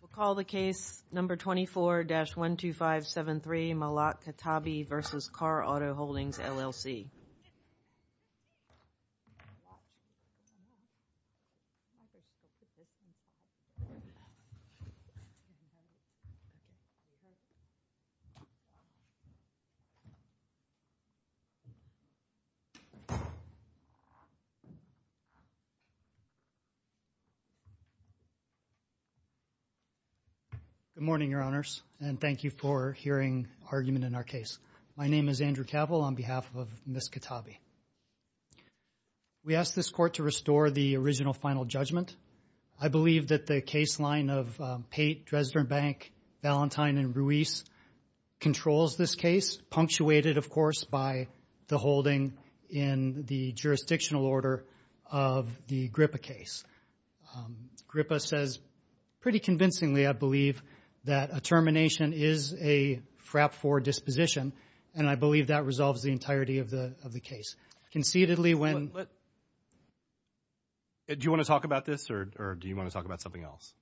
We'll call the case number 24-12573 Malak Khatabi v. Car Auto Holdings, LLC. Good morning, your honors, and thank you for hearing argument in our case. My name is Andrew Cavill on behalf of Ms. Khatabi. We ask this court to restore the original final judgment. I believe that the case line of Pate, Dresden Bank, Valentine, and Ruiz controls this case, punctuated, of course, by the holding in the jurisdictional order of the GRIPA case. GRIPA says pretty convincingly, I believe, that a termination is a frap for disposition, and I believe that resolves the entirety of the case. Conceitedly, when... Do you want to talk about this, or do you want to talk about something else?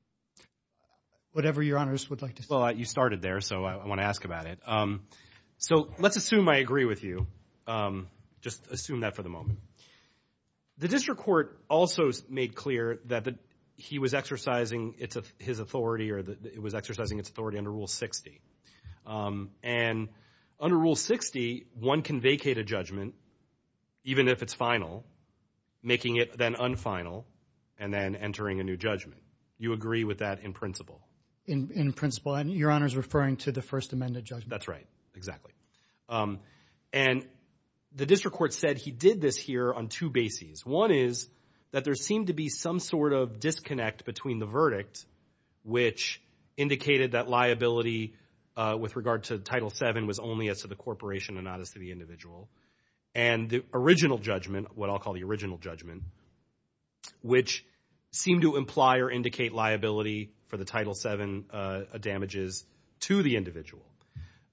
Whatever your honors would like to say. Well, you started there, so I want to ask about it. So let's assume I agree with you. Just assume that for the moment. The district court also made clear that he was exercising his authority, or it was exercising its authority under Rule 60. And under Rule 60, one can vacate a judgment, even if it's final, making it then unfinal, and then entering a new judgment. You agree with that in principle? In principle, and your honors referring to the First Amendment judgment. That's right, exactly. And the district court said he did this here on two bases. One is that there seemed to be some sort of disconnect between the verdict, which indicated that liability with regard to Title VII was only as to the corporation and not as to the individual, and the original judgment, what I'll call the original judgment, which seemed to imply or indicate liability for the Title VII damages to the individual.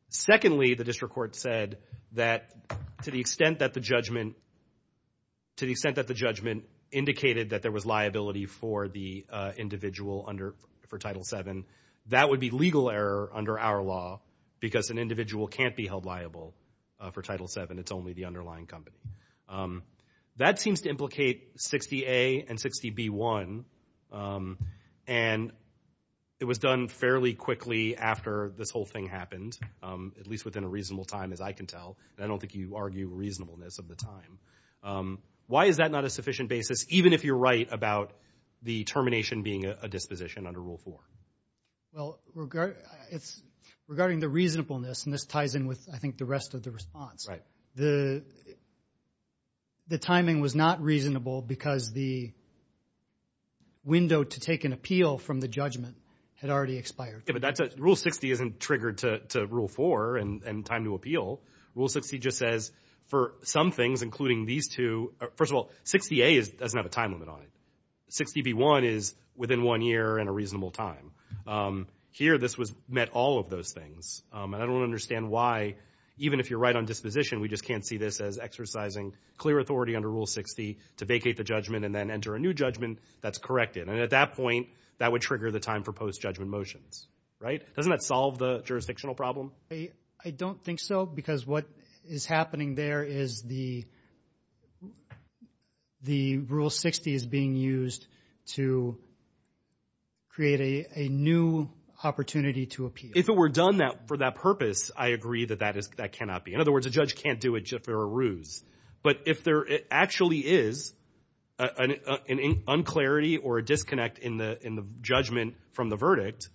Secondly, the district court said that to the extent that the judgment indicated that there was liability for the individual under Title VII, that would be legal error under our law, because an individual can't be held liable for Title VII. It's only the underlying company. That seems to implicate 60A and 60B1, and it was done fairly quickly after this whole thing happened, at least within a reasonable time, as I can tell, and I don't think you argue reasonableness of the time. Why is that not a sufficient basis, even if you're right about the termination being a disposition under Rule 4? Well, regarding the reasonableness, and this ties in with, I think, the rest of the response, the timing was not reasonable because the window to take an appeal from the judgment had already expired. Rule 60 isn't triggered to Rule 4 and time to appeal. Rule 60 just says, for some things, including these two, first of all, 60A doesn't have a time limit on it. 60B1 is within one year and a reasonable time. Here, this met all of those things, and I don't understand why, even if you're right on disposition, we just can't see this as exercising clear authority under Rule 60 to vacate the judgment and then enter a new judgment that's corrected. And at that point, that would trigger the time for post-judgment motions, right? Doesn't that solve the jurisdictional problem? I don't think so, because what is happening there is the Rule 60 is being used to create a new opportunity to appeal. If it were done for that purpose, I agree that that cannot be. In other words, a judge in the judgment from the verdict,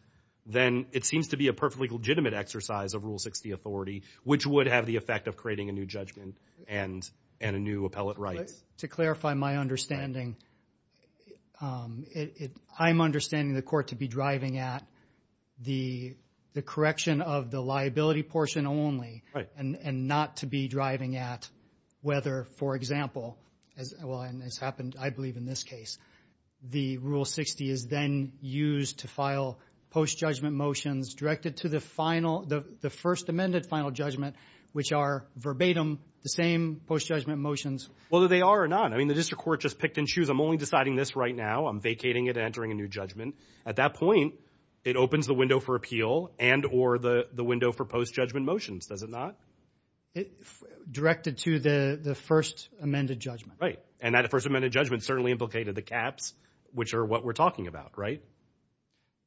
then it seems to be a perfectly legitimate exercise of Rule 60 authority, which would have the effect of creating a new judgment and a new appellate right. To clarify my understanding, I'm understanding the court to be driving at the correction of the liability portion only and not to be driving at whether, for example, as happened, I believe in this case, the Rule 60 is then used to file post-judgment motions directed to the first amended final judgment, which are verbatim the same post-judgment motions. Whether they are or not, I mean, the district court just picked and choose. I'm only deciding this right now. I'm vacating it and entering a new judgment. At that point, it opens the window for appeal and or the window for post-judgment motions, does it not? Directed to the first amended judgment. Right, and that first amended judgment certainly implicated the caps, which are what we're talking about, right?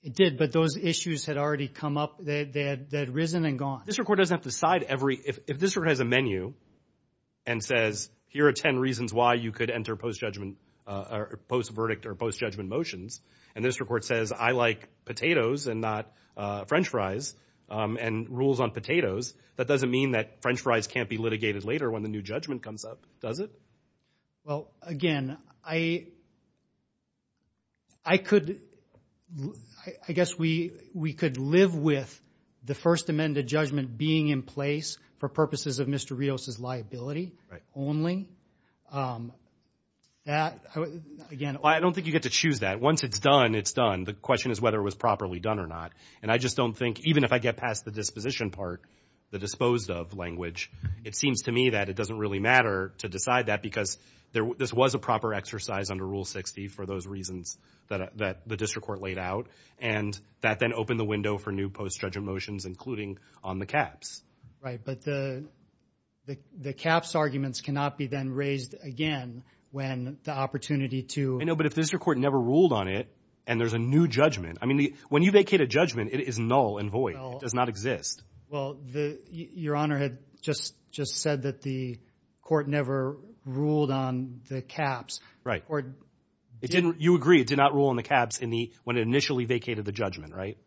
It did, but those issues had already come up, they had risen and gone. District court doesn't have to decide every, if district court has a menu and says, here are 10 reasons why you could enter post-judgment or post-verdict or post-judgment motions, and district court says, I like potatoes and not French fries and rules on potatoes, that doesn't mean that French fries can't be litigated later when the new judgment comes up, does it? Well, again, I could, I guess we could live with the first amended judgment being in place for purposes of Mr. Rios' liability only. That, again, Well, I don't think you get to choose that. Once it's done, it's done. The question is whether it was properly done or not. And I just don't think, even if I get past the disposition part, the disposed of language, it seems to me that it doesn't really matter to decide that because this was a proper exercise under Rule 60 for those reasons that the district court laid out, and that then opened the window for new post-judgment motions, including on the caps. Right, but the caps arguments cannot be then raised again when the opportunity to I know, but if the district court never ruled on it and there's a new judgment, I mean, When you vacate a judgment, it is null and void. It does not exist. Well, the, your honor had just, just said that the court never ruled on the caps. Right. It didn't, you agree, it did not rule on the caps in the, when it initially vacated the judgment, right?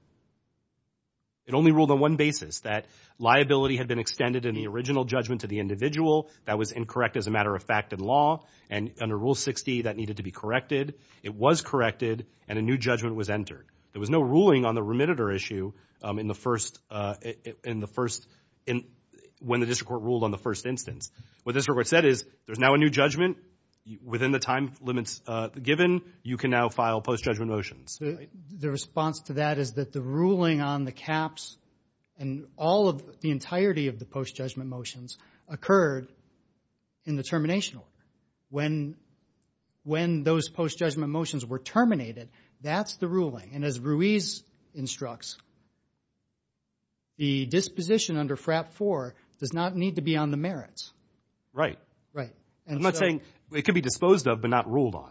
It only ruled on one basis, that liability had been extended in the original judgment to the individual that was incorrect as a matter of fact and law. And under Rule 60, that needed to be corrected. It was corrected and a new judgment was entered. There was no ruling on the remitter issue in the first, in the first, when the district court ruled on the first instance. What the district court said is, there's now a new judgment within the time limits given. You can now file post-judgment motions. The response to that is that the ruling on the caps and all of the entirety of the post-judgment motions occurred in the termination order. When, when those post-judgment motions were terminated, that's the ruling. And as Ruiz instructs, the disposition under FRAP 4 does not need to be on the merits. Right. Right. I'm not saying, it could be disposed of but not ruled on.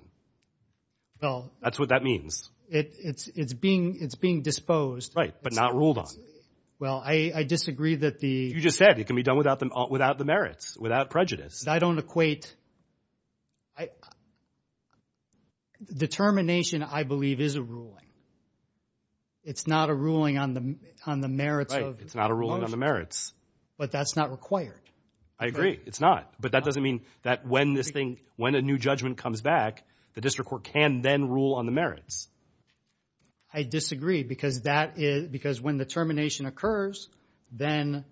That's what that means. It, it's, it's being, it's being disposed. Right, but not ruled on. Well, I, I disagree that the... You just said it can be done without the, without the merits, without prejudice. I don't equate, I, the termination, I believe, is a ruling. It's not a ruling on the, on the merits of the motion. Right, it's not a ruling on the merits. But that's not required. I agree. It's not. But that doesn't mean that when this thing, when a new judgment comes back, the district court can then rule on the merits. I disagree because that is, because when the termination occurs, then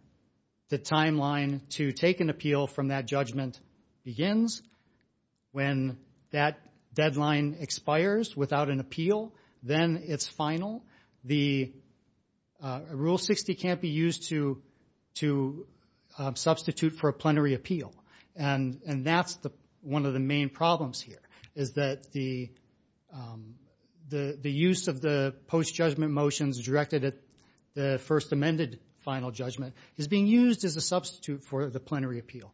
the timeline to take an appeal from that judgment begins. When that deadline expires without an appeal, then it's final. The Rule 60 can't be used to, to substitute for a plenary appeal. And that's the, one of the main problems here, is that the, the, the use of the post-judgment motions directed at the first amended final judgment is being used as a substitute for the plenary appeal.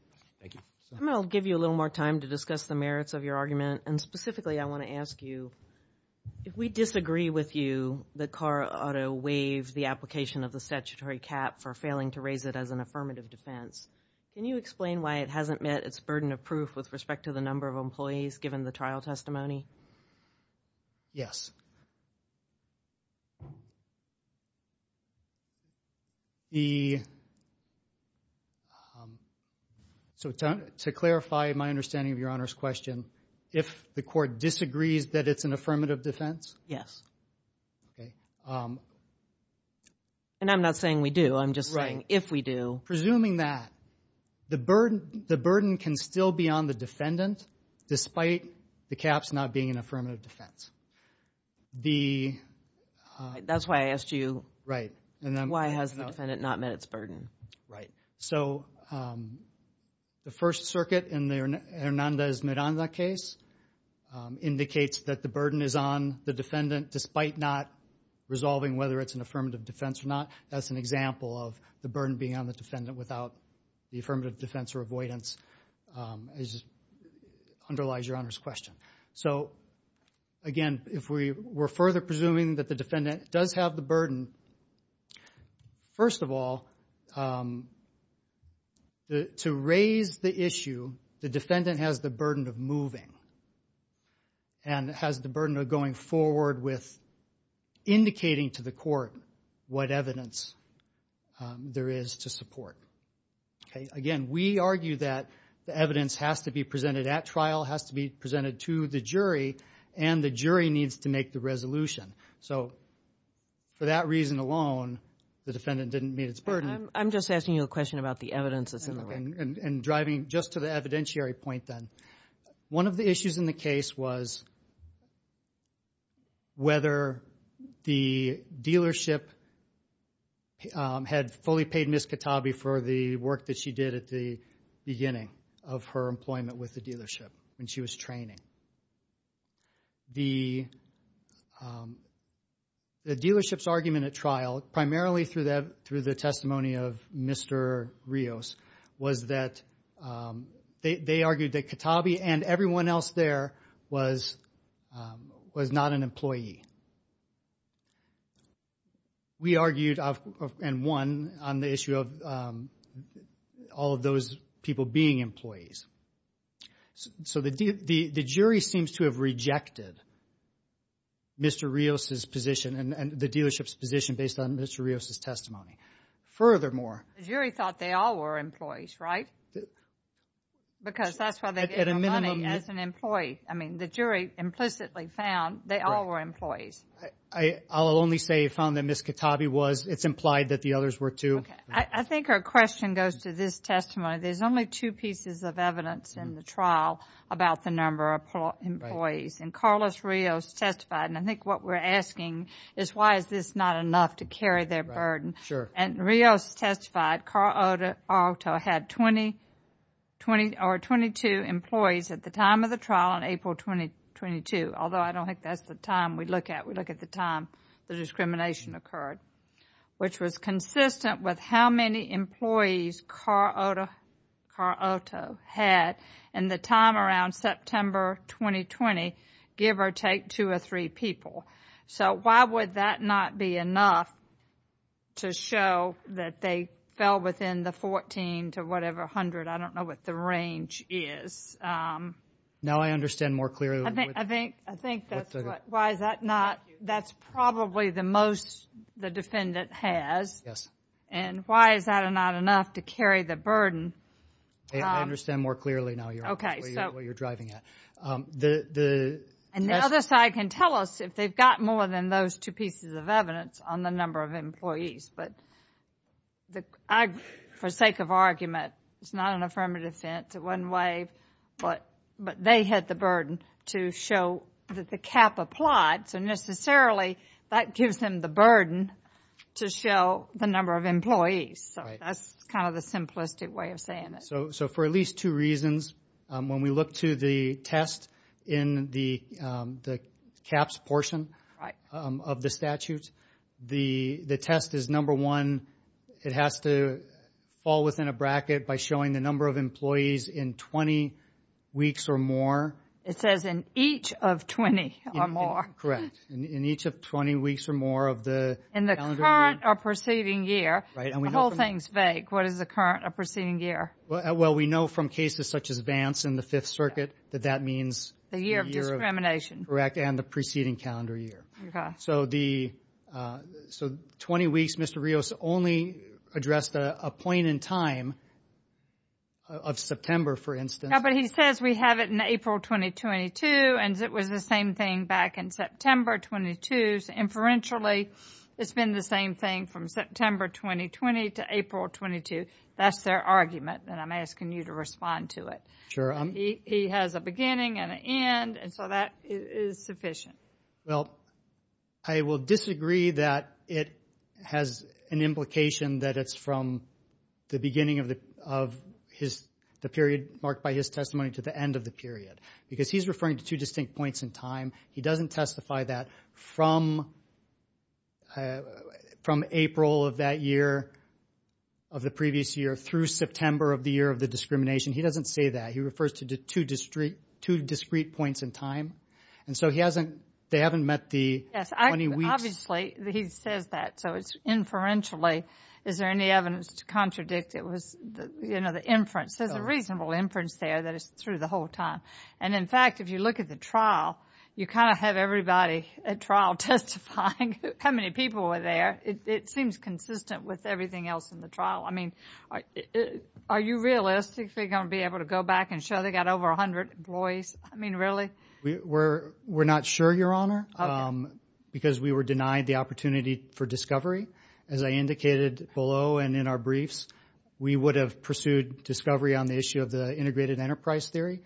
I'm going to give you a little more time to discuss the merits of your argument, and specifically I want to ask you, if we disagree with you that CARA ought to waive the application of the statutory cap for failing to raise it as an affirmative defense, can you explain why it hasn't met its burden of proof with respect to the number of employees given the trial testimony? Yes. The, so to, to clarify my understanding of your Honor's question, if the court disagrees that it's an affirmative defense? Yes. Okay. And I'm not saying we do, I'm just saying, if we do. Presuming that, the burden, the burden can still be on the defendant despite the caps not being an affirmative defense. The... That's why I asked you... Right. ...why has the defendant not met its burden? Right. So, the First Circuit in the Hernandez-Miranda case indicates that the burden is on the defendant despite not resolving whether it's an affirmative defense or not. That's an example of the burden being on the defendant without the affirmative defense or avoidance, as underlies your Honor's question. So, again, if we were further presuming that the defendant does have the burden, first of all, to raise the issue, the defendant has the burden of moving and has the burden of going forward with indicating to the court what evidence there is to support. Okay. Again, we argue that the evidence has to be presented at trial, has to be presented to the jury, and the jury needs to make the resolution. So, for that reason alone, the defendant didn't meet its burden. I'm just asking you a question about the evidence that's in the record. And driving just to the evidentiary point then, one of the issues in the case was whether the dealership had fully paid Ms. Katabi for the work that she did at the beginning of her employment with the dealership when she was training. The dealership's argument at that point was that they argued that Katabi and everyone else there was not an employee. We argued, and won, on the issue of all of those people being employees. So, the jury seems to have rejected Mr. Rios' position and the dealership's position based on Mr. Rios' testimony. Furthermore... The jury thought they all were employees, right? Because that's why they gave them money as an employee. I mean, the jury implicitly found they all were employees. I'll only say it found that Ms. Katabi was. It's implied that the others were, too. I think our question goes to this testimony. There's only two pieces of evidence in the trial about the number of employees. And Carlos Rios testified, and I think what we're asking is why is this not enough to carry their burden. And Rios testified Carl Oto had 20 or 22 employees at the time of the trial in April 2022, although I don't think that's the time we look at. We look at the time the discrimination occurred, which was consistent with how many employees Carl Oto had in the time around September 2020, give or take two or three people. So, why would that not be enough to show that they fell within the 14 to whatever hundred, I don't know what the range is. Now I understand more clearly. I think that's what, why is that not, that's probably the most the defendant has. Yes. And why is that not enough to carry the burden? I understand more clearly now what you're driving at. And the other side can tell us if they've got more than those two pieces of evidence on the number of employees. But I, for sake of argument, it's not an affirmative sentence one way, but they had the burden to show that the cap applied. So necessarily that gives them the burden to show the number of employees. So that's kind of the simplistic way of saying it. So for at least two reasons, when we look to the test in the caps portion of the statute, the test is number one, it has to fall within a bracket by showing the number of employees in 20 weeks or more. It says in each of 20 or more. Correct. In each of 20 weeks or more of the calendar year. In the current or preceding year. The whole thing's vague. What is the current or preceding year? We know from cases such as Vance in the Fifth Circuit that that means the year of discrimination. And the preceding calendar year. So 20 weeks, Mr. Rios only addressed a point in time of September for instance. No, but he says we have it in April 2022 and it was the same thing back in September 22. Inferentially, it's been the same thing from September 2020 to April 22. That's their argument and I'm asking you to respond to it. He has a beginning and an end and so that is sufficient. Well, I will disagree that it has an implication that it's from the beginning of the period marked by his testimony to the end of the period. Because he's referring to two distinct points in time. He doesn't testify that from April of that year, of the previous year, through September of the year of the discrimination. He doesn't say that. He refers to two discrete points in time. And so he hasn't, they haven't met the 20 weeks. Obviously he says that. So it's inferentially. Is there any evidence to contradict it was the inference? There's a reasonable inference there that it's through the whole time. And in fact, if you look at the trial, you kind of have everybody at trial testifying how many people were there. It seems consistent with everything else in the trial. I mean, are you realistically going to be able to go back and show they got over 100 employees? I mean, really? We're not sure, Your Honor, because we were denied the opportunity for discovery. As I indicated below and in our briefs, we would have pursued discovery on the issue of the integrated enterprise theory.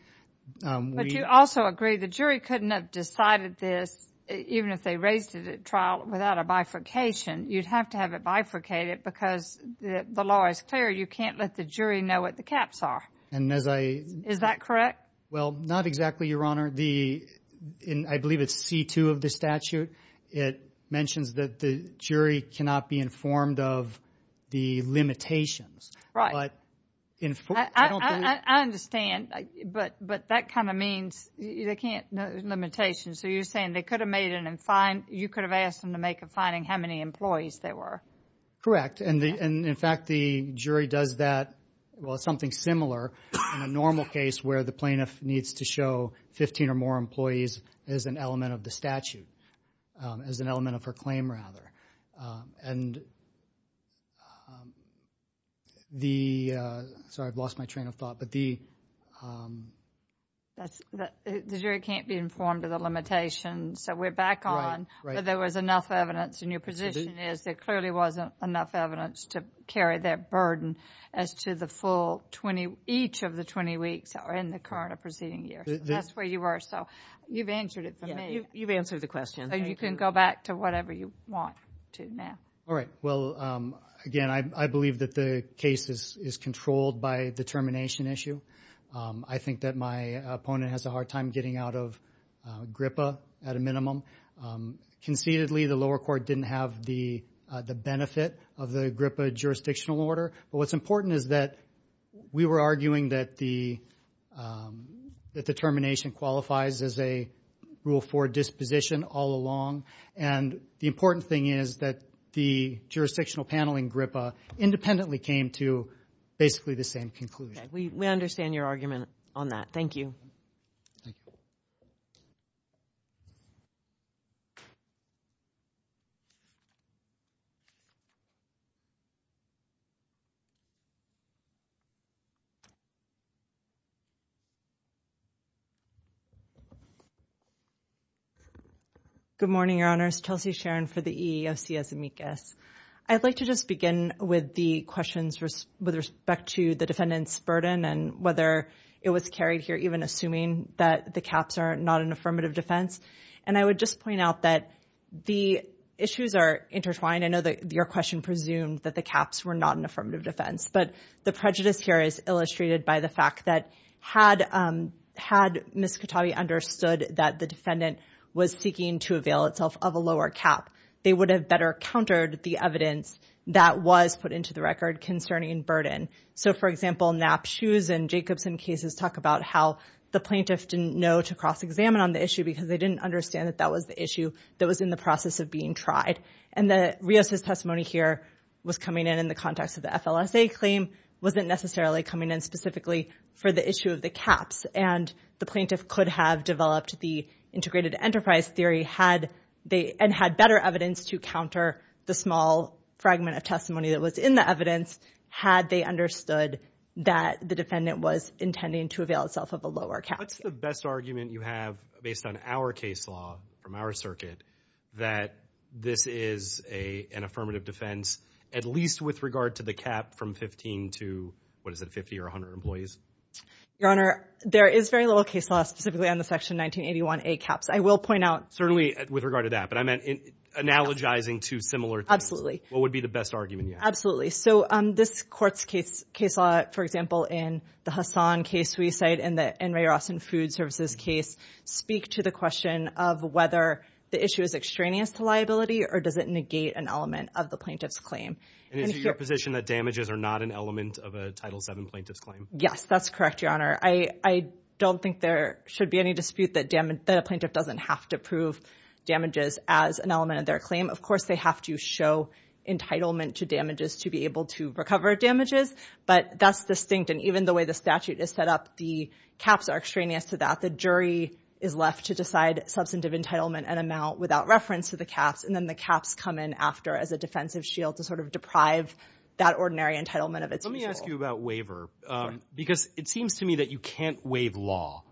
But you also agree the jury couldn't have decided this, even if they raised it at trial without a bifurcation. You'd have to have it bifurcated because the law is clear. You can't let the jury know what the caps are. Is that correct? Well, not exactly, Your Honor. I believe it's C-2 of the statute. It mentions that the jury cannot be informed of the limitations. Right. I understand, but that kind of means they can't know the limitations. So you're saying you could have asked them to make a finding how many employees there were. Correct. And in fact, the jury does that, well, something similar in a normal case where the plaintiff needs to show 15 or more employees as an element of the statute, as an element of her claim, rather. And the, sorry, I've lost my train of thought, but the... The jury can't be informed of the limitations, so we're back on whether there was enough evidence. And your position is there clearly wasn't enough evidence to carry that burden as to the full 20, each of the 20 weeks in the current or preceding year. That's where you were, so you've answered it for me. You've answered the question. So you can go back to whatever you want to now. All right. Well, again, I believe that the case is controlled by the termination issue. I think that my opponent has a hard time getting out of GRPA at a minimum. Conceitedly, the lower court didn't have the benefit of the GRPA jurisdictional order, but what's important is that we were arguing that the termination qualifies as a Rule 4 disposition all along and the important thing is that the jurisdictional panel in GRPA independently came to basically the same conclusion. We understand your argument on that. Thank you. Good morning, Your Honors. Chelsea Sharon for the EEOC as amicus. I'd like to just begin with the questions with respect to the defendant's burden and whether it was carried here even assuming that the caps are not an affirmative defense. And I would just point out that the issues are intertwined. I know that your question presumed that the caps were not an affirmative defense, but the prejudice here is illustrated by the fact that had Ms. Katabi understood that the defendant was seeking to avail itself of a lower cap, they would have better countered the evidence that was put into the record concerning burden. So, for example, Knapp Shoes and Jacobson cases talk about how the plaintiff didn't know to cross-examine on the issue because they didn't understand that that was the issue that was in the process of being tried. And that Rios' testimony here was coming in in the context of the FLSA claim wasn't necessarily coming in specifically for the issue of the caps and the plaintiff could have developed the integrated enterprise theory and had better evidence to counter the small fragment of testimony that was in the evidence had they understood that the defendant was intending to avail itself of a lower cap. What's the best argument you have based on our case law from our circuit that this is an affirmative defense at least with regard to the cap from 15 to, what is it, 50 or 100 employees? Your Honor, there is very little case law specifically on the Section 1981A caps. I will point out... Certainly with regard to that, but I meant analogizing to similar... Absolutely. What would be the best argument you have? Absolutely. So this court's case law, for example, in the Hassan case we cite in the N. Ray Ross and Food Services case speak to the question of whether the issue is extraneous to liability or does it negate an element of the plaintiff's claim. And is it your position that damages are not an element of a Title VII plaintiff's claim? Yes, that's correct, Your Honor. I don't think there should be any dispute that a plaintiff doesn't have to prove damages as an element of their claim. Of course, they have to show entitlement to damages to be able to recover damages, but that's distinct. And even the way the statute is set up, the caps are extraneous to that. The jury is left to decide substantive entitlement and amount without reference to the caps, and then the caps come in after as a defensive shield to sort of deprive that ordinary entitlement of its use. Let me ask you about waiver, because it seems to me that you can't waive law.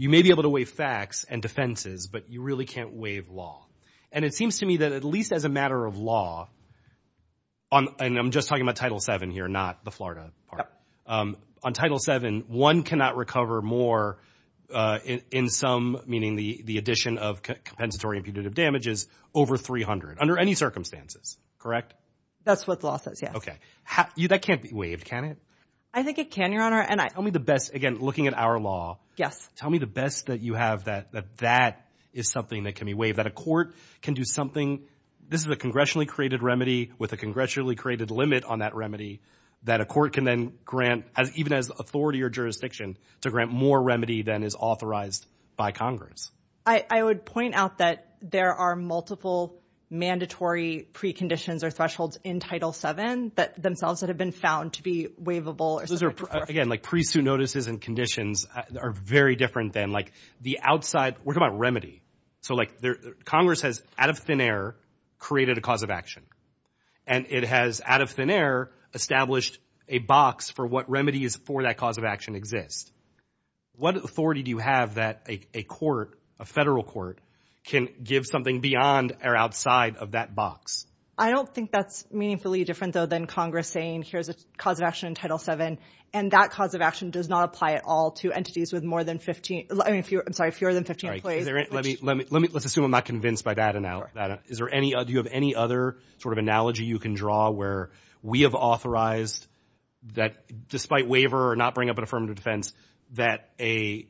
You may be able to waive facts and defenses, but you really can't waive law. And it seems to me that at least as a matter of law, and I'm just talking about Title VII here, not the Florida part, on Title VII, one cannot recover more in some, meaning the addition of compensatory impunitive damages, over 300, under any circumstances, correct? That's what the law says, yes. Okay. That can't be waived, can it? I think it can, Your Honor. Tell me the best, again, looking at our law. Yes. Tell me the best that you have that that is something that can be waived, that a court can do something, this is a congressionally created remedy with a congressionally created limit on that remedy, that a court can then grant, even as authority or jurisdiction, to grant more remedy than is authorized by Congress. I would point out that there are multiple mandatory preconditions or thresholds in Title VII that themselves that have been found to be waivable or something like that. Those are, again, like pre-suit notices and conditions are very different than, like, the outside, we're talking about remedy. So, like, Congress has, out of thin air, created a cause of action. And it has, out of thin air, established a box for what remedies for that cause of action exist. What authority do you have that a court, a federal court, can give something beyond or outside of that box? I don't think that's meaningfully different, though, than Congress saying, here's a cause of action in Title VII. And that cause of action does not apply at all to entities with more than 15, I mean, fewer, I'm sorry, fewer than 15 employees. Let me, let me, let's assume I'm not convinced by that. Is there any, do you have any other sort of analogy you can draw where we have authorized that, despite waiver or not bring up an affirmative defense, that a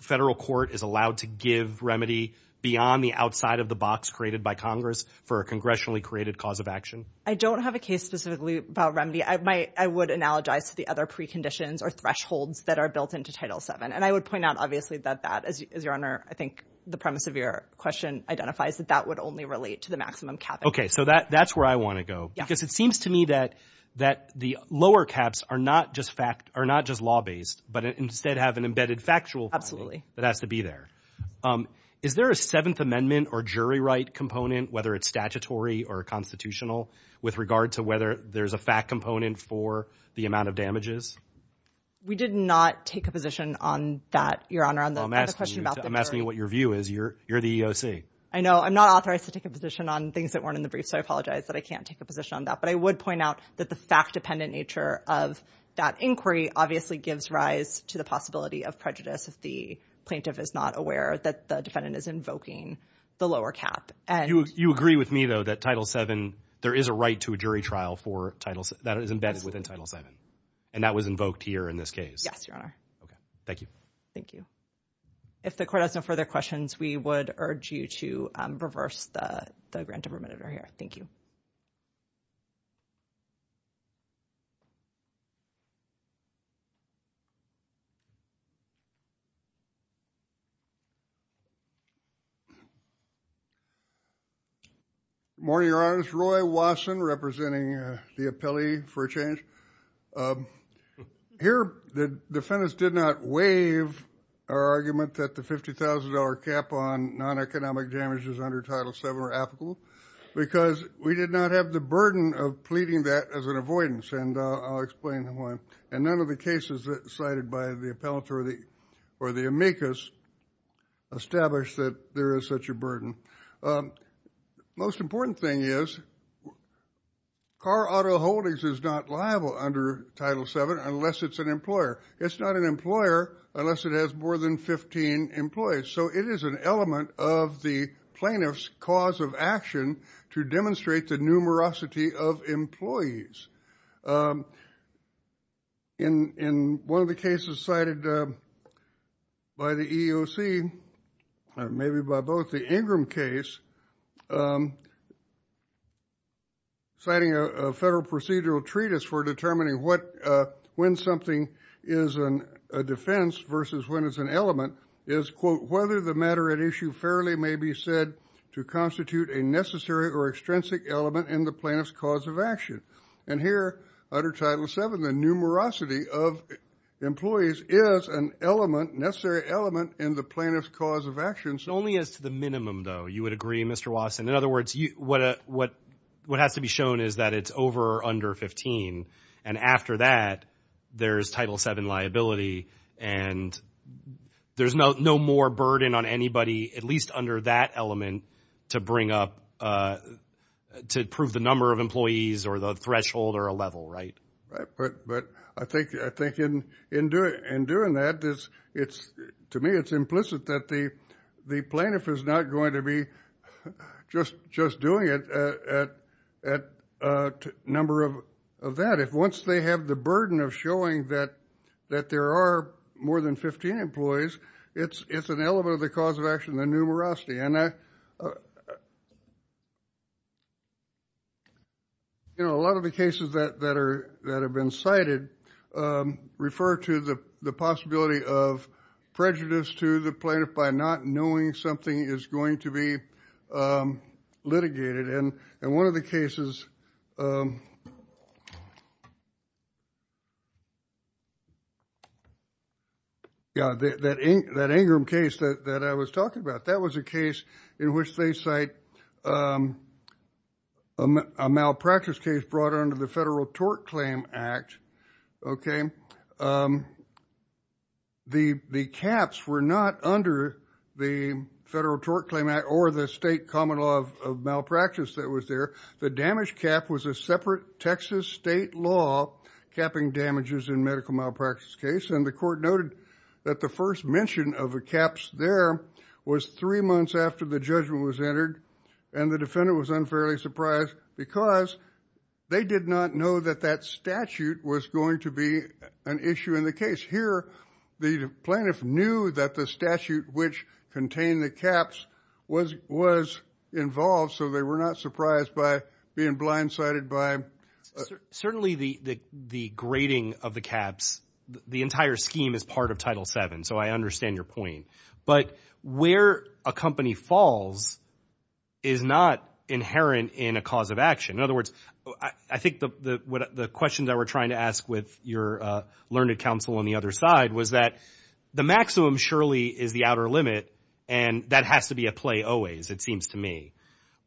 federal court is allowed to give remedy beyond the outside of the box created by Congress for a congressionally created cause of action? I don't have a case specifically about remedy. I might, I would analogize to the other preconditions or thresholds that are built into Title VII. And I would point out, obviously, that that, as your Honor, I think the premise of your question identifies that that would only relate to the maximum cap. Okay. So that, that's where I want to go. Because it seems to me that, that the lower caps are not just fact, are not just law-based, but instead have an embedded factual. Absolutely. That has to be there. Is there a Seventh Amendment or jury right component, whether it's statutory or constitutional, with regard to whether there's a fact component for the amount of damages? We did not take a position on that, your Honor, on the question about the jury. I'm asking you what your view is. You're, you're the EOC. I know. I'm not authorized to take a position on things that weren't in the brief, so I apologize that I can't take a position on that. But I would point out that the fact-dependent nature of that inquiry obviously gives rise to the possibility of prejudice if the plaintiff is not aware that the defendant is invoking the lower cap. And— You agree with me, though, that Title VII, there is a right to a jury trial for Title VII, that is embedded within Title VII. And that was invoked here in this case. Yes, your Honor. Okay. Thank you. Thank you. If the Court has no further questions, we would urge you to reverse the, the grant of remittance right here. Thank you. Good morning, your Honor. This is Roy Watson, representing the appellee for a change. Here, the defendant did not waive our argument that the $50,000 cap on non-economic damages under Title VII are applicable because we did not have the burden of pleading that as an avoidance, and I'll explain why. And none of the cases cited by the appellate or the, or the amicus established that there is such a burden. Most important thing is, car auto holdings is not under Title VII unless it's an employer. It's not an employer unless it has more than 15 employees. So it is an element of the plaintiff's cause of action to demonstrate the numerosity of employees. In, in one of the cases cited by the EEOC, maybe by both the Ingram case, um, citing a, a federal procedural treatise for determining what, uh, when something is an, a defense versus when it's an element, is, quote, whether the matter at issue fairly may be said to constitute a necessary or extrinsic element in the plaintiff's cause of action. And here, under Title VII, the numerosity of employees is an element, necessary element, in the plaintiff's cause of action. Only as to the minimum, though, you would agree, Mr. Wasson. In other words, you, what a, what, what has to be shown is that it's over or under 15. And after that, there's Title VII liability, and there's no, no more burden on anybody, at least under that element, to bring up, uh, to prove the number of employees or the threshold or a level, right? Right, but, but I think, I think in, in doing, in doing that, there's, it's, to me, it's implicit that the, the plaintiff is not going to be just, just doing it at, at a number of, of that. If once they have the burden of showing that, that there are more than 15 employees, it's, it's an element of the cause of action, the numerosity. And I, you know, a lot of the cases that, that are, that have been cited, um, refer to the, the possibility of prejudice to the plaintiff by not knowing something is going to be, um, litigated. And, and one of the cases, um, yeah, that, that, that Ingram case that, that I was talking about, that was a case in which they cite, um, a malpractice case brought under the Federal Tort Claim Act, okay? Um, the, the caps were not under the Federal Tort Claim Act or the state common law of malpractice that was there. The damage cap was a separate Texas state law capping damages in medical malpractice case. And the court noted that the first mention of a caps there was three months after the judgment was entered. And the defendant was unfairly surprised because they did not know that that statute was going to be an issue in the case. Here, the plaintiff knew that the statute which contained the caps was, was involved. So they were not surprised by being blindsided by. Certainly the, the, the grading of the caps, the entire scheme is part of Title VII. So I your point. But where a company falls is not inherent in a cause of action. In other words, I think the, the, what, the questions that we're trying to ask with your, uh, learned counsel on the other side was that the maximum surely is the outer limit. And that has to be a play always, it seems to me.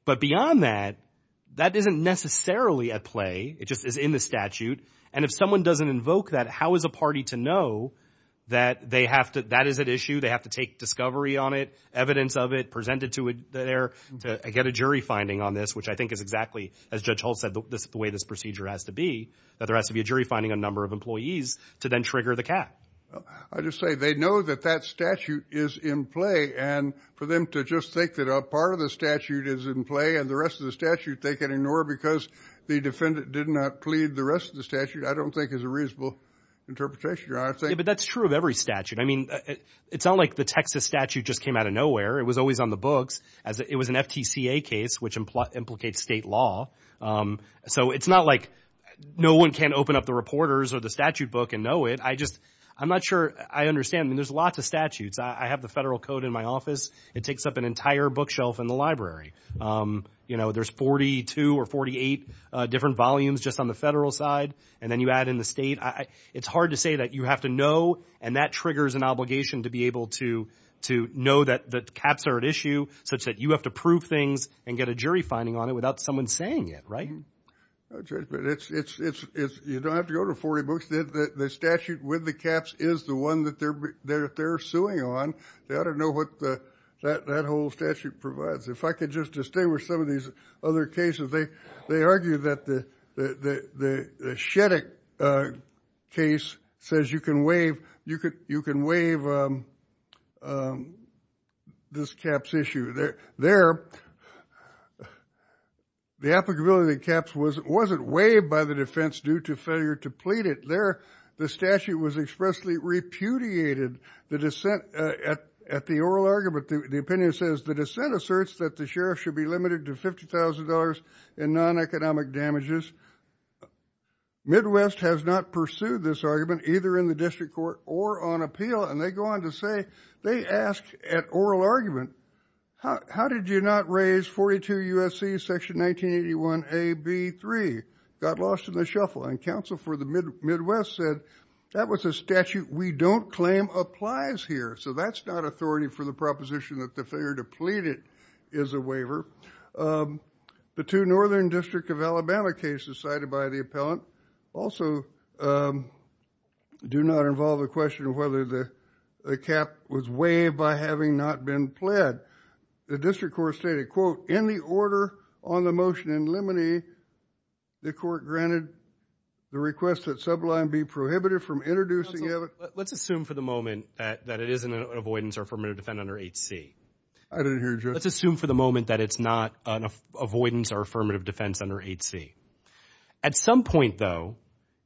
But beyond that, that isn't necessarily a play. It just is in the statute. And if someone doesn't invoke that, how is a party to know that they have to, that is an issue, they have to take discovery on it, evidence of it presented to it there to get a jury finding on this, which I think is exactly as Judge Holt said, this is the way this procedure has to be, that there has to be a jury finding a number of employees to then trigger the cap. I just say, they know that that statute is in play. And for them to just think that a part of the statute is in play and the rest of the statute they can ignore because the defendant did not lead the rest of the statute, I don't think is a reasonable interpretation, Your Honor. Yeah, but that's true of every statute. I mean, it's not like the Texas statute just came out of nowhere. It was always on the books as it was an FTCA case, which implies implicates state law. So it's not like no one can open up the reporters or the statute book and know it. I just, I'm not sure I understand. I mean, there's lots of statutes. I have the federal code in my office. It takes up an entire bookshelf in the library. You know, there's 42 or 48 different volumes just on the federal side. And then you add in the state. It's hard to say that you have to know, and that triggers an obligation to be able to know that the caps are at issue, such that you have to prove things and get a jury finding on it without someone saying it, right? No, Judge, but it's, you don't have to go to 40 books. The statute with the caps is the one that they're suing on. They ought to know what that whole statute provides. If I could just stay with some of these other cases, they argue that the Shettick case says you can waive this caps issue. There, the applicability of the caps wasn't waived by the defense due to failure to plead it. There, the statute was expressly repudiated. The dissent at the oral argument, the opinion says the dissent asserts that the sheriff should be limited to $50,000 in non-economic damages. Midwest has not pursued this argument, either in the district court or on appeal. And they go on to say, they ask at oral argument, how did you not raise 42 USC section 1981A-B-3? Got lost in the shuffle. And counsel for the Midwest said that was a statute we don't claim applies here. So that's not authority for the proposition that the failure to plead it is a waiver. The two northern district of Alabama cases cited by the appellant also do not involve a question of whether the cap was waived by having not been pled. The district court stated, quote, in the order on the motion in limine, the court granted the request that sublime be prohibited from introducing of it. Let's assume for the moment that it isn't an avoidance or affirmative defense under 8C. Let's assume for the moment that it's not an avoidance or affirmative defense under 8C. At some point, though,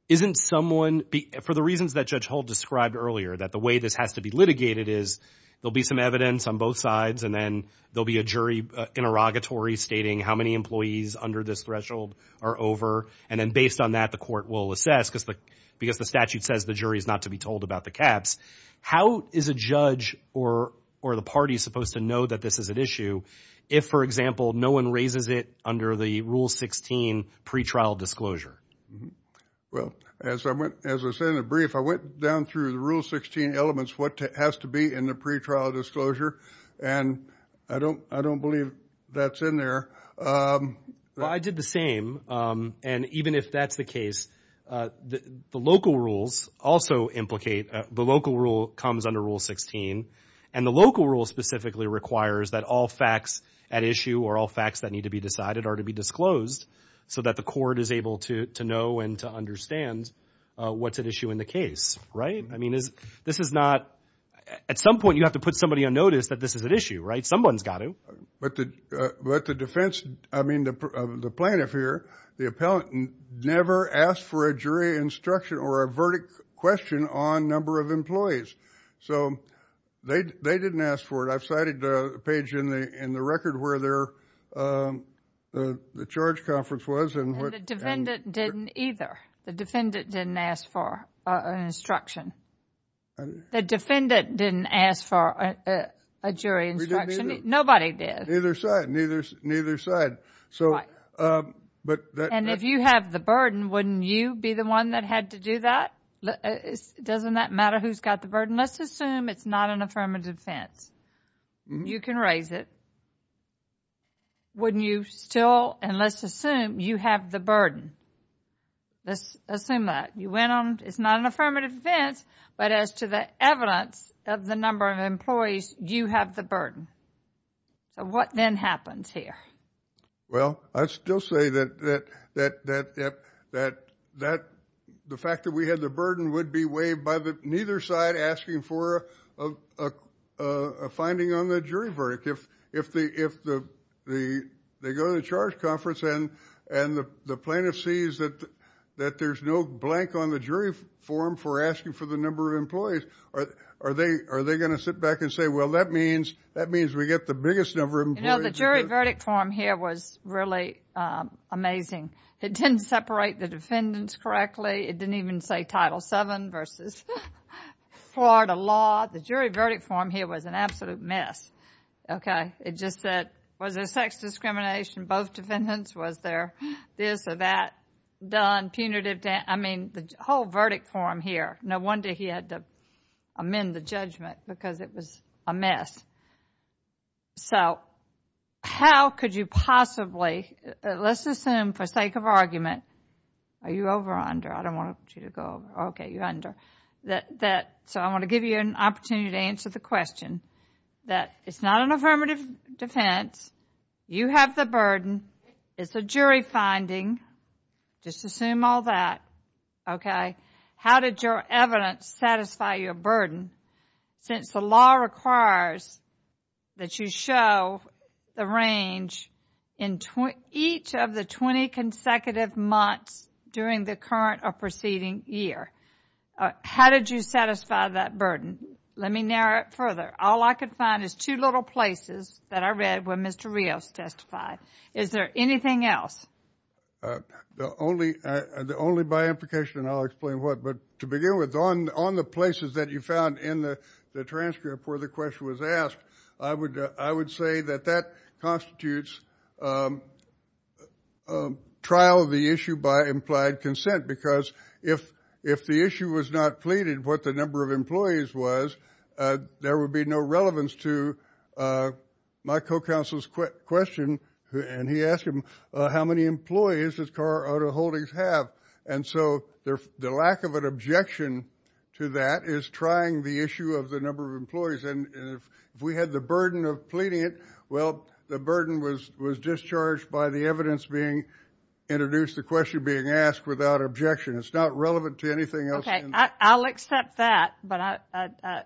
isn't someone, for the reasons that Judge Holt described earlier, that the way this has to be litigated is there'll be some evidence on both sides, and then there'll be a jury interrogatory stating how many employees under this threshold are over. And then based on that, the court will assess, because the statute says the jury is not to be told about the caps. How is a judge or the party supposed to know that this is an issue if, for example, no one raises it under the Rule 16 pretrial disclosure? Well, as I said in the brief, I went down through the Rule 16 elements, what has to be in the pretrial disclosure. And I don't believe that's in there. Well, I did the same. And even if that's the case, the local rules also implicate, the local rule comes under Rule 16. And the local rule specifically requires that all facts at issue or all facts that need to be decided are to be disclosed so that the court is able to know and to understand what's at issue in the case, right? I mean, this is not, at some point, you have to put somebody on notice that this is an issue, right? Someone's got to. But the defense, I mean, the plaintiff here, the appellant, never asked for a jury instruction or a verdict question on number of employees. So they didn't ask for it. I've cited a page in the record where the charge conference was. And the defendant didn't either. The defendant didn't ask for an instruction. The defendant didn't ask for a jury instruction. Nobody did. Neither side. Neither side. And if you have the burden, wouldn't you be the one that had to do that? Doesn't that matter who's got the burden? Let's assume it's not an affirmative defense. You can raise it. Wouldn't you still, and let's assume you have the burden. Let's assume that. You went on, it's not an affirmative defense, but as to the evidence of the number of employees, you have the burden. So what then happens here? Well, I'd still say that the fact that we had the burden would be weighed by neither side asking for a finding on the jury verdict. If they go to the charge conference and the plaintiff sees that there's no blank on the jury form for asking for the number of employees, are they going to sit back and say, well, that means we get the biggest number of employees? You know, the jury verdict form here was really amazing. It didn't separate the defendants correctly. It didn't even say Title VII versus Florida law. The jury verdict form here was an absolute mess. Okay. It just said, was there sex discrimination in both defendants? Was there this or that done punitive? I mean, the whole verdict form here, no wonder he had to amend the judgment because it was a mess. So how could you possibly, let's assume for sake of argument, are you over or under? I don't want you to go over. Okay, you're under. So I want to give you an opportunity to answer the question that it's not an affirmative defense. You have the burden. It's a jury finding. Just assume all that. Okay. How did your evidence satisfy your burden since the law requires that you show the range in each of the 20 consecutive months during the current or preceding year? How did you satisfy that burden? Let me narrow it further. All I could find is two little places that I read where Mr. Rios testified. Is there anything else? Only by implication, and I'll explain what. But to begin with, on the places that you found in the transcript where the question was asked, I would say that that constitutes a trial of the issue by implied consent because if the issue was not pleaded, what the number of employees was, there would be no relevance to my co-counsel's question. And he asked him how many employees his car auto holdings have. And so the lack of an objection to that is trying the issue of the number of employees. And if we had the burden of pleading it, well, the burden was discharged by the evidence being introduced, the question being asked without objection. It's not relevant to anything else. Okay, I'll accept that, but I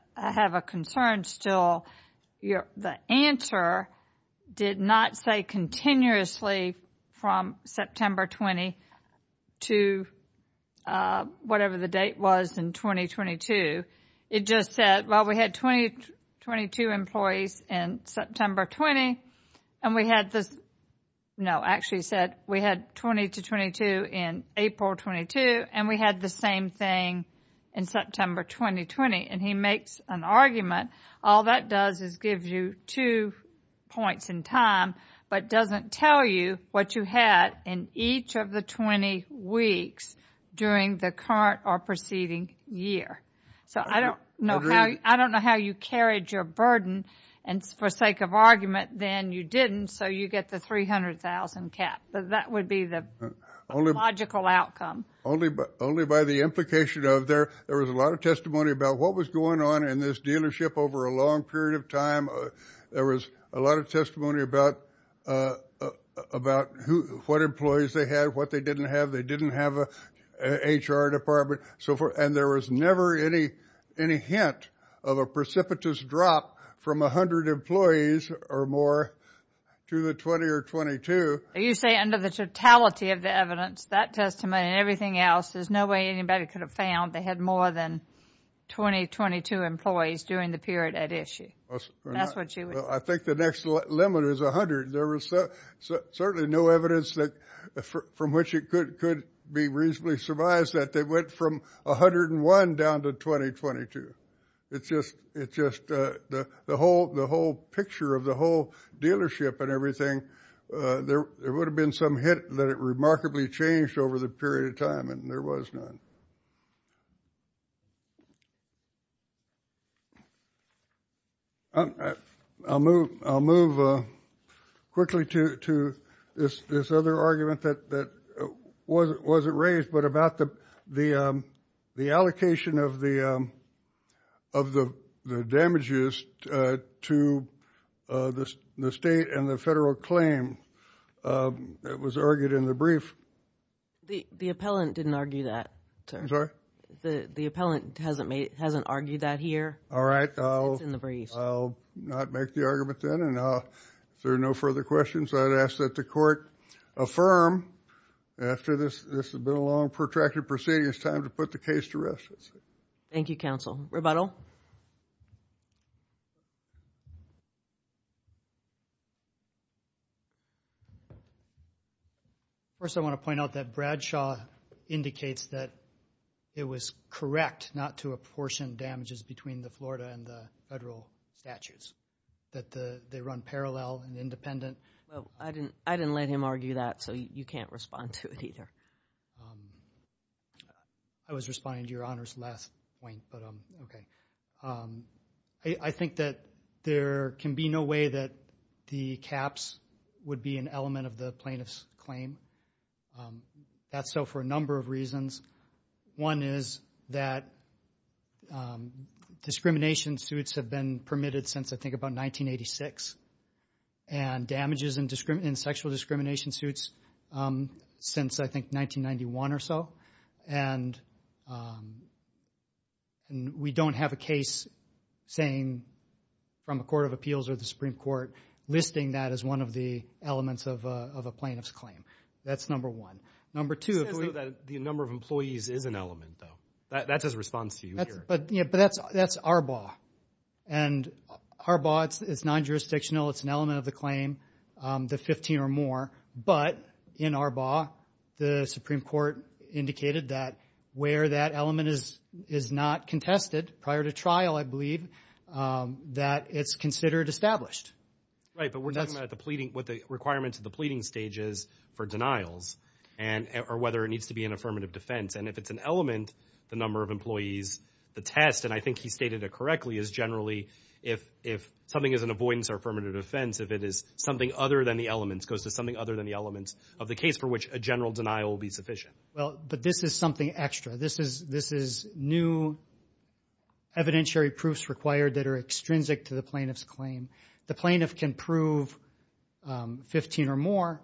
continuously from September 22, whatever the date was in 2022, it just said, well, we had 22 employees in September 20. And we had this, no, actually said we had 20 to 22 in April 22. And we had the same thing in September 2020. And he makes an argument. All that does is give you two points in time, but doesn't tell you what you had in each of the 20 weeks during the current or preceding year. So I don't know, I don't know how you carried your burden. And for sake of argument, then you didn't. So you get the 300,000 cap, but that would be the only logical outcome. Only but only by the implication of there, there was a lot of testimony about what was going on in this dealership over a long period of time. There was a lot of testimony about, about who, what employees they had, what they didn't have, they didn't have a HR department, so forth. And there was never any, any hint of a precipitous drop from 100 employees or more to the 20 or 22. You say under the totality of the evidence, that testimony and everything else, there's no way anybody could have found they had more than 20, 22 employees during the period at issue. That's what she would say. I think the next limit is 100. There was certainly no evidence that, from which it could, could be reasonably surmised that they went from 101 down to 2022. It's just, it's just the whole, the whole picture of the whole dealership and everything. There would have been some hint that it remarkably changed over the period of time, and there was none. I'll move, I'll move quickly to, to this, this other argument that, that wasn't raised, but about the, the, the allocation of the, of the, the damages to the, the state and the federal claim that was argued in the brief. The, the appellant didn't argue that, sir. I'm sorry? The, the appellant hasn't made, hasn't argued that here. All right. I'll, I'll not make the argument then, and I'll, if there are no further questions, I'd ask that the court affirm after this, this has been a long protracted proceeding, it's time to put the case to rest. Thank you, counsel. Rebuttal. First, I want to point out that Bradshaw indicates that it was correct not to apportion damages between the Florida and the federal statutes, that the, they run parallel and Well, I didn't, I didn't let him argue that, so you can't respond to it either. I was responding to your honors last point, but okay. I, I think that there can be no way that the caps would be an element of the plaintiff's claim. That's so for a number of reasons. One is that discrimination suits have been permitted since, I think, about 1986, and damages and discrimination, sexual discrimination suits since, I think, 1991 or so, and we don't have a case saying from a court of appeals or the Supreme Court listing that as one of the elements of a, of a plaintiff's claim. That's number one. Number two, the number of employees is an element though. That's his response to you here. But yeah, but that's, that's Arbaugh, and Arbaugh, it's non-jurisdictional, it's an element of the claim, the 15 or more, but in Arbaugh, the Supreme Court indicated that where that element is, is not contested prior to trial, I believe, that it's considered established. Right, but we're talking about the pleading, what the requirements of the pleading stage is for denials and, or whether it needs to be an affirmative defense, and if it's an element, the number of employees, the test, and I think he stated it correctly, is generally if, if something is an avoidance or affirmative defense, if it is something other than the goes to something other than the elements of the case for which a general denial will be sufficient. Well, but this is something extra. This is, this is new evidentiary proofs required that are extrinsic to the plaintiff's claim. The plaintiff can prove 15 or more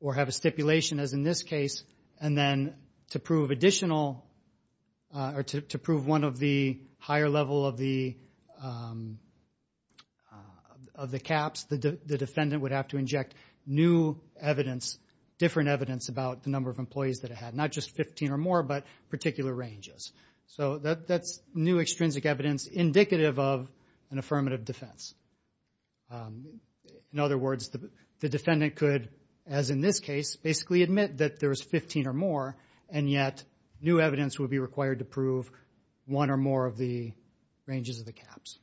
or have a stipulation as in this case, and then to prove additional, or to prove one of the higher level of the, of the caps, the defendant would have to inject new evidence, different evidence about the number of employees that it had, not just 15 or more, but particular ranges. So that's new extrinsic evidence indicative of an affirmative defense. In other words, the defendant could, as in this case, basically admit that there's 15 or more, and yet new evidence would be required to prove one or more of the ranges of the caps,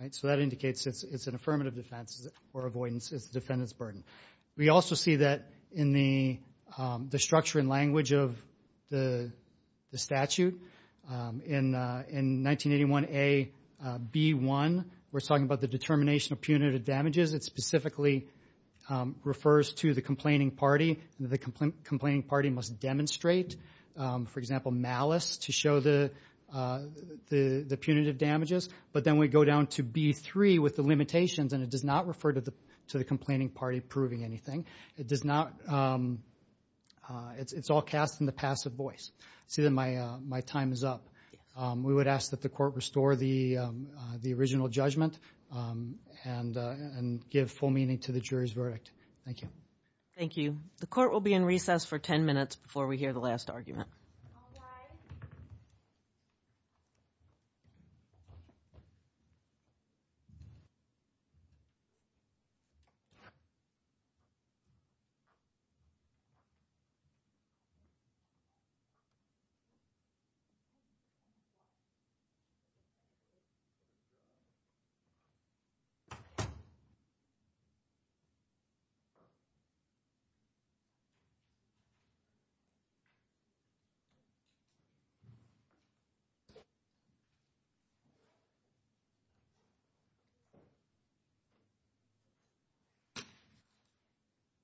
right? So that indicates it's, it's an affirmative defense or avoidance, it's the defendant's burden. We also see that in the, the structure and language of the, the statute. In, in 1981-A-B-1, we're talking about the determination of punitive damages. It specifically refers to the complaining party, and the complaining party must demonstrate, for example, malice to show the, the, the punitive damages. But then we go down to B-3 with the limitations, and it does not refer to the, to the complaining party proving anything. It does not, it's, it's all cast in the passive voice. See that my, my time is up. We would ask that the court restore the, the original judgment, and, and give full meaning to the jury's verdict. Thank you. Thank you. The court will be in recess for 10 minutes before we hear the last argument.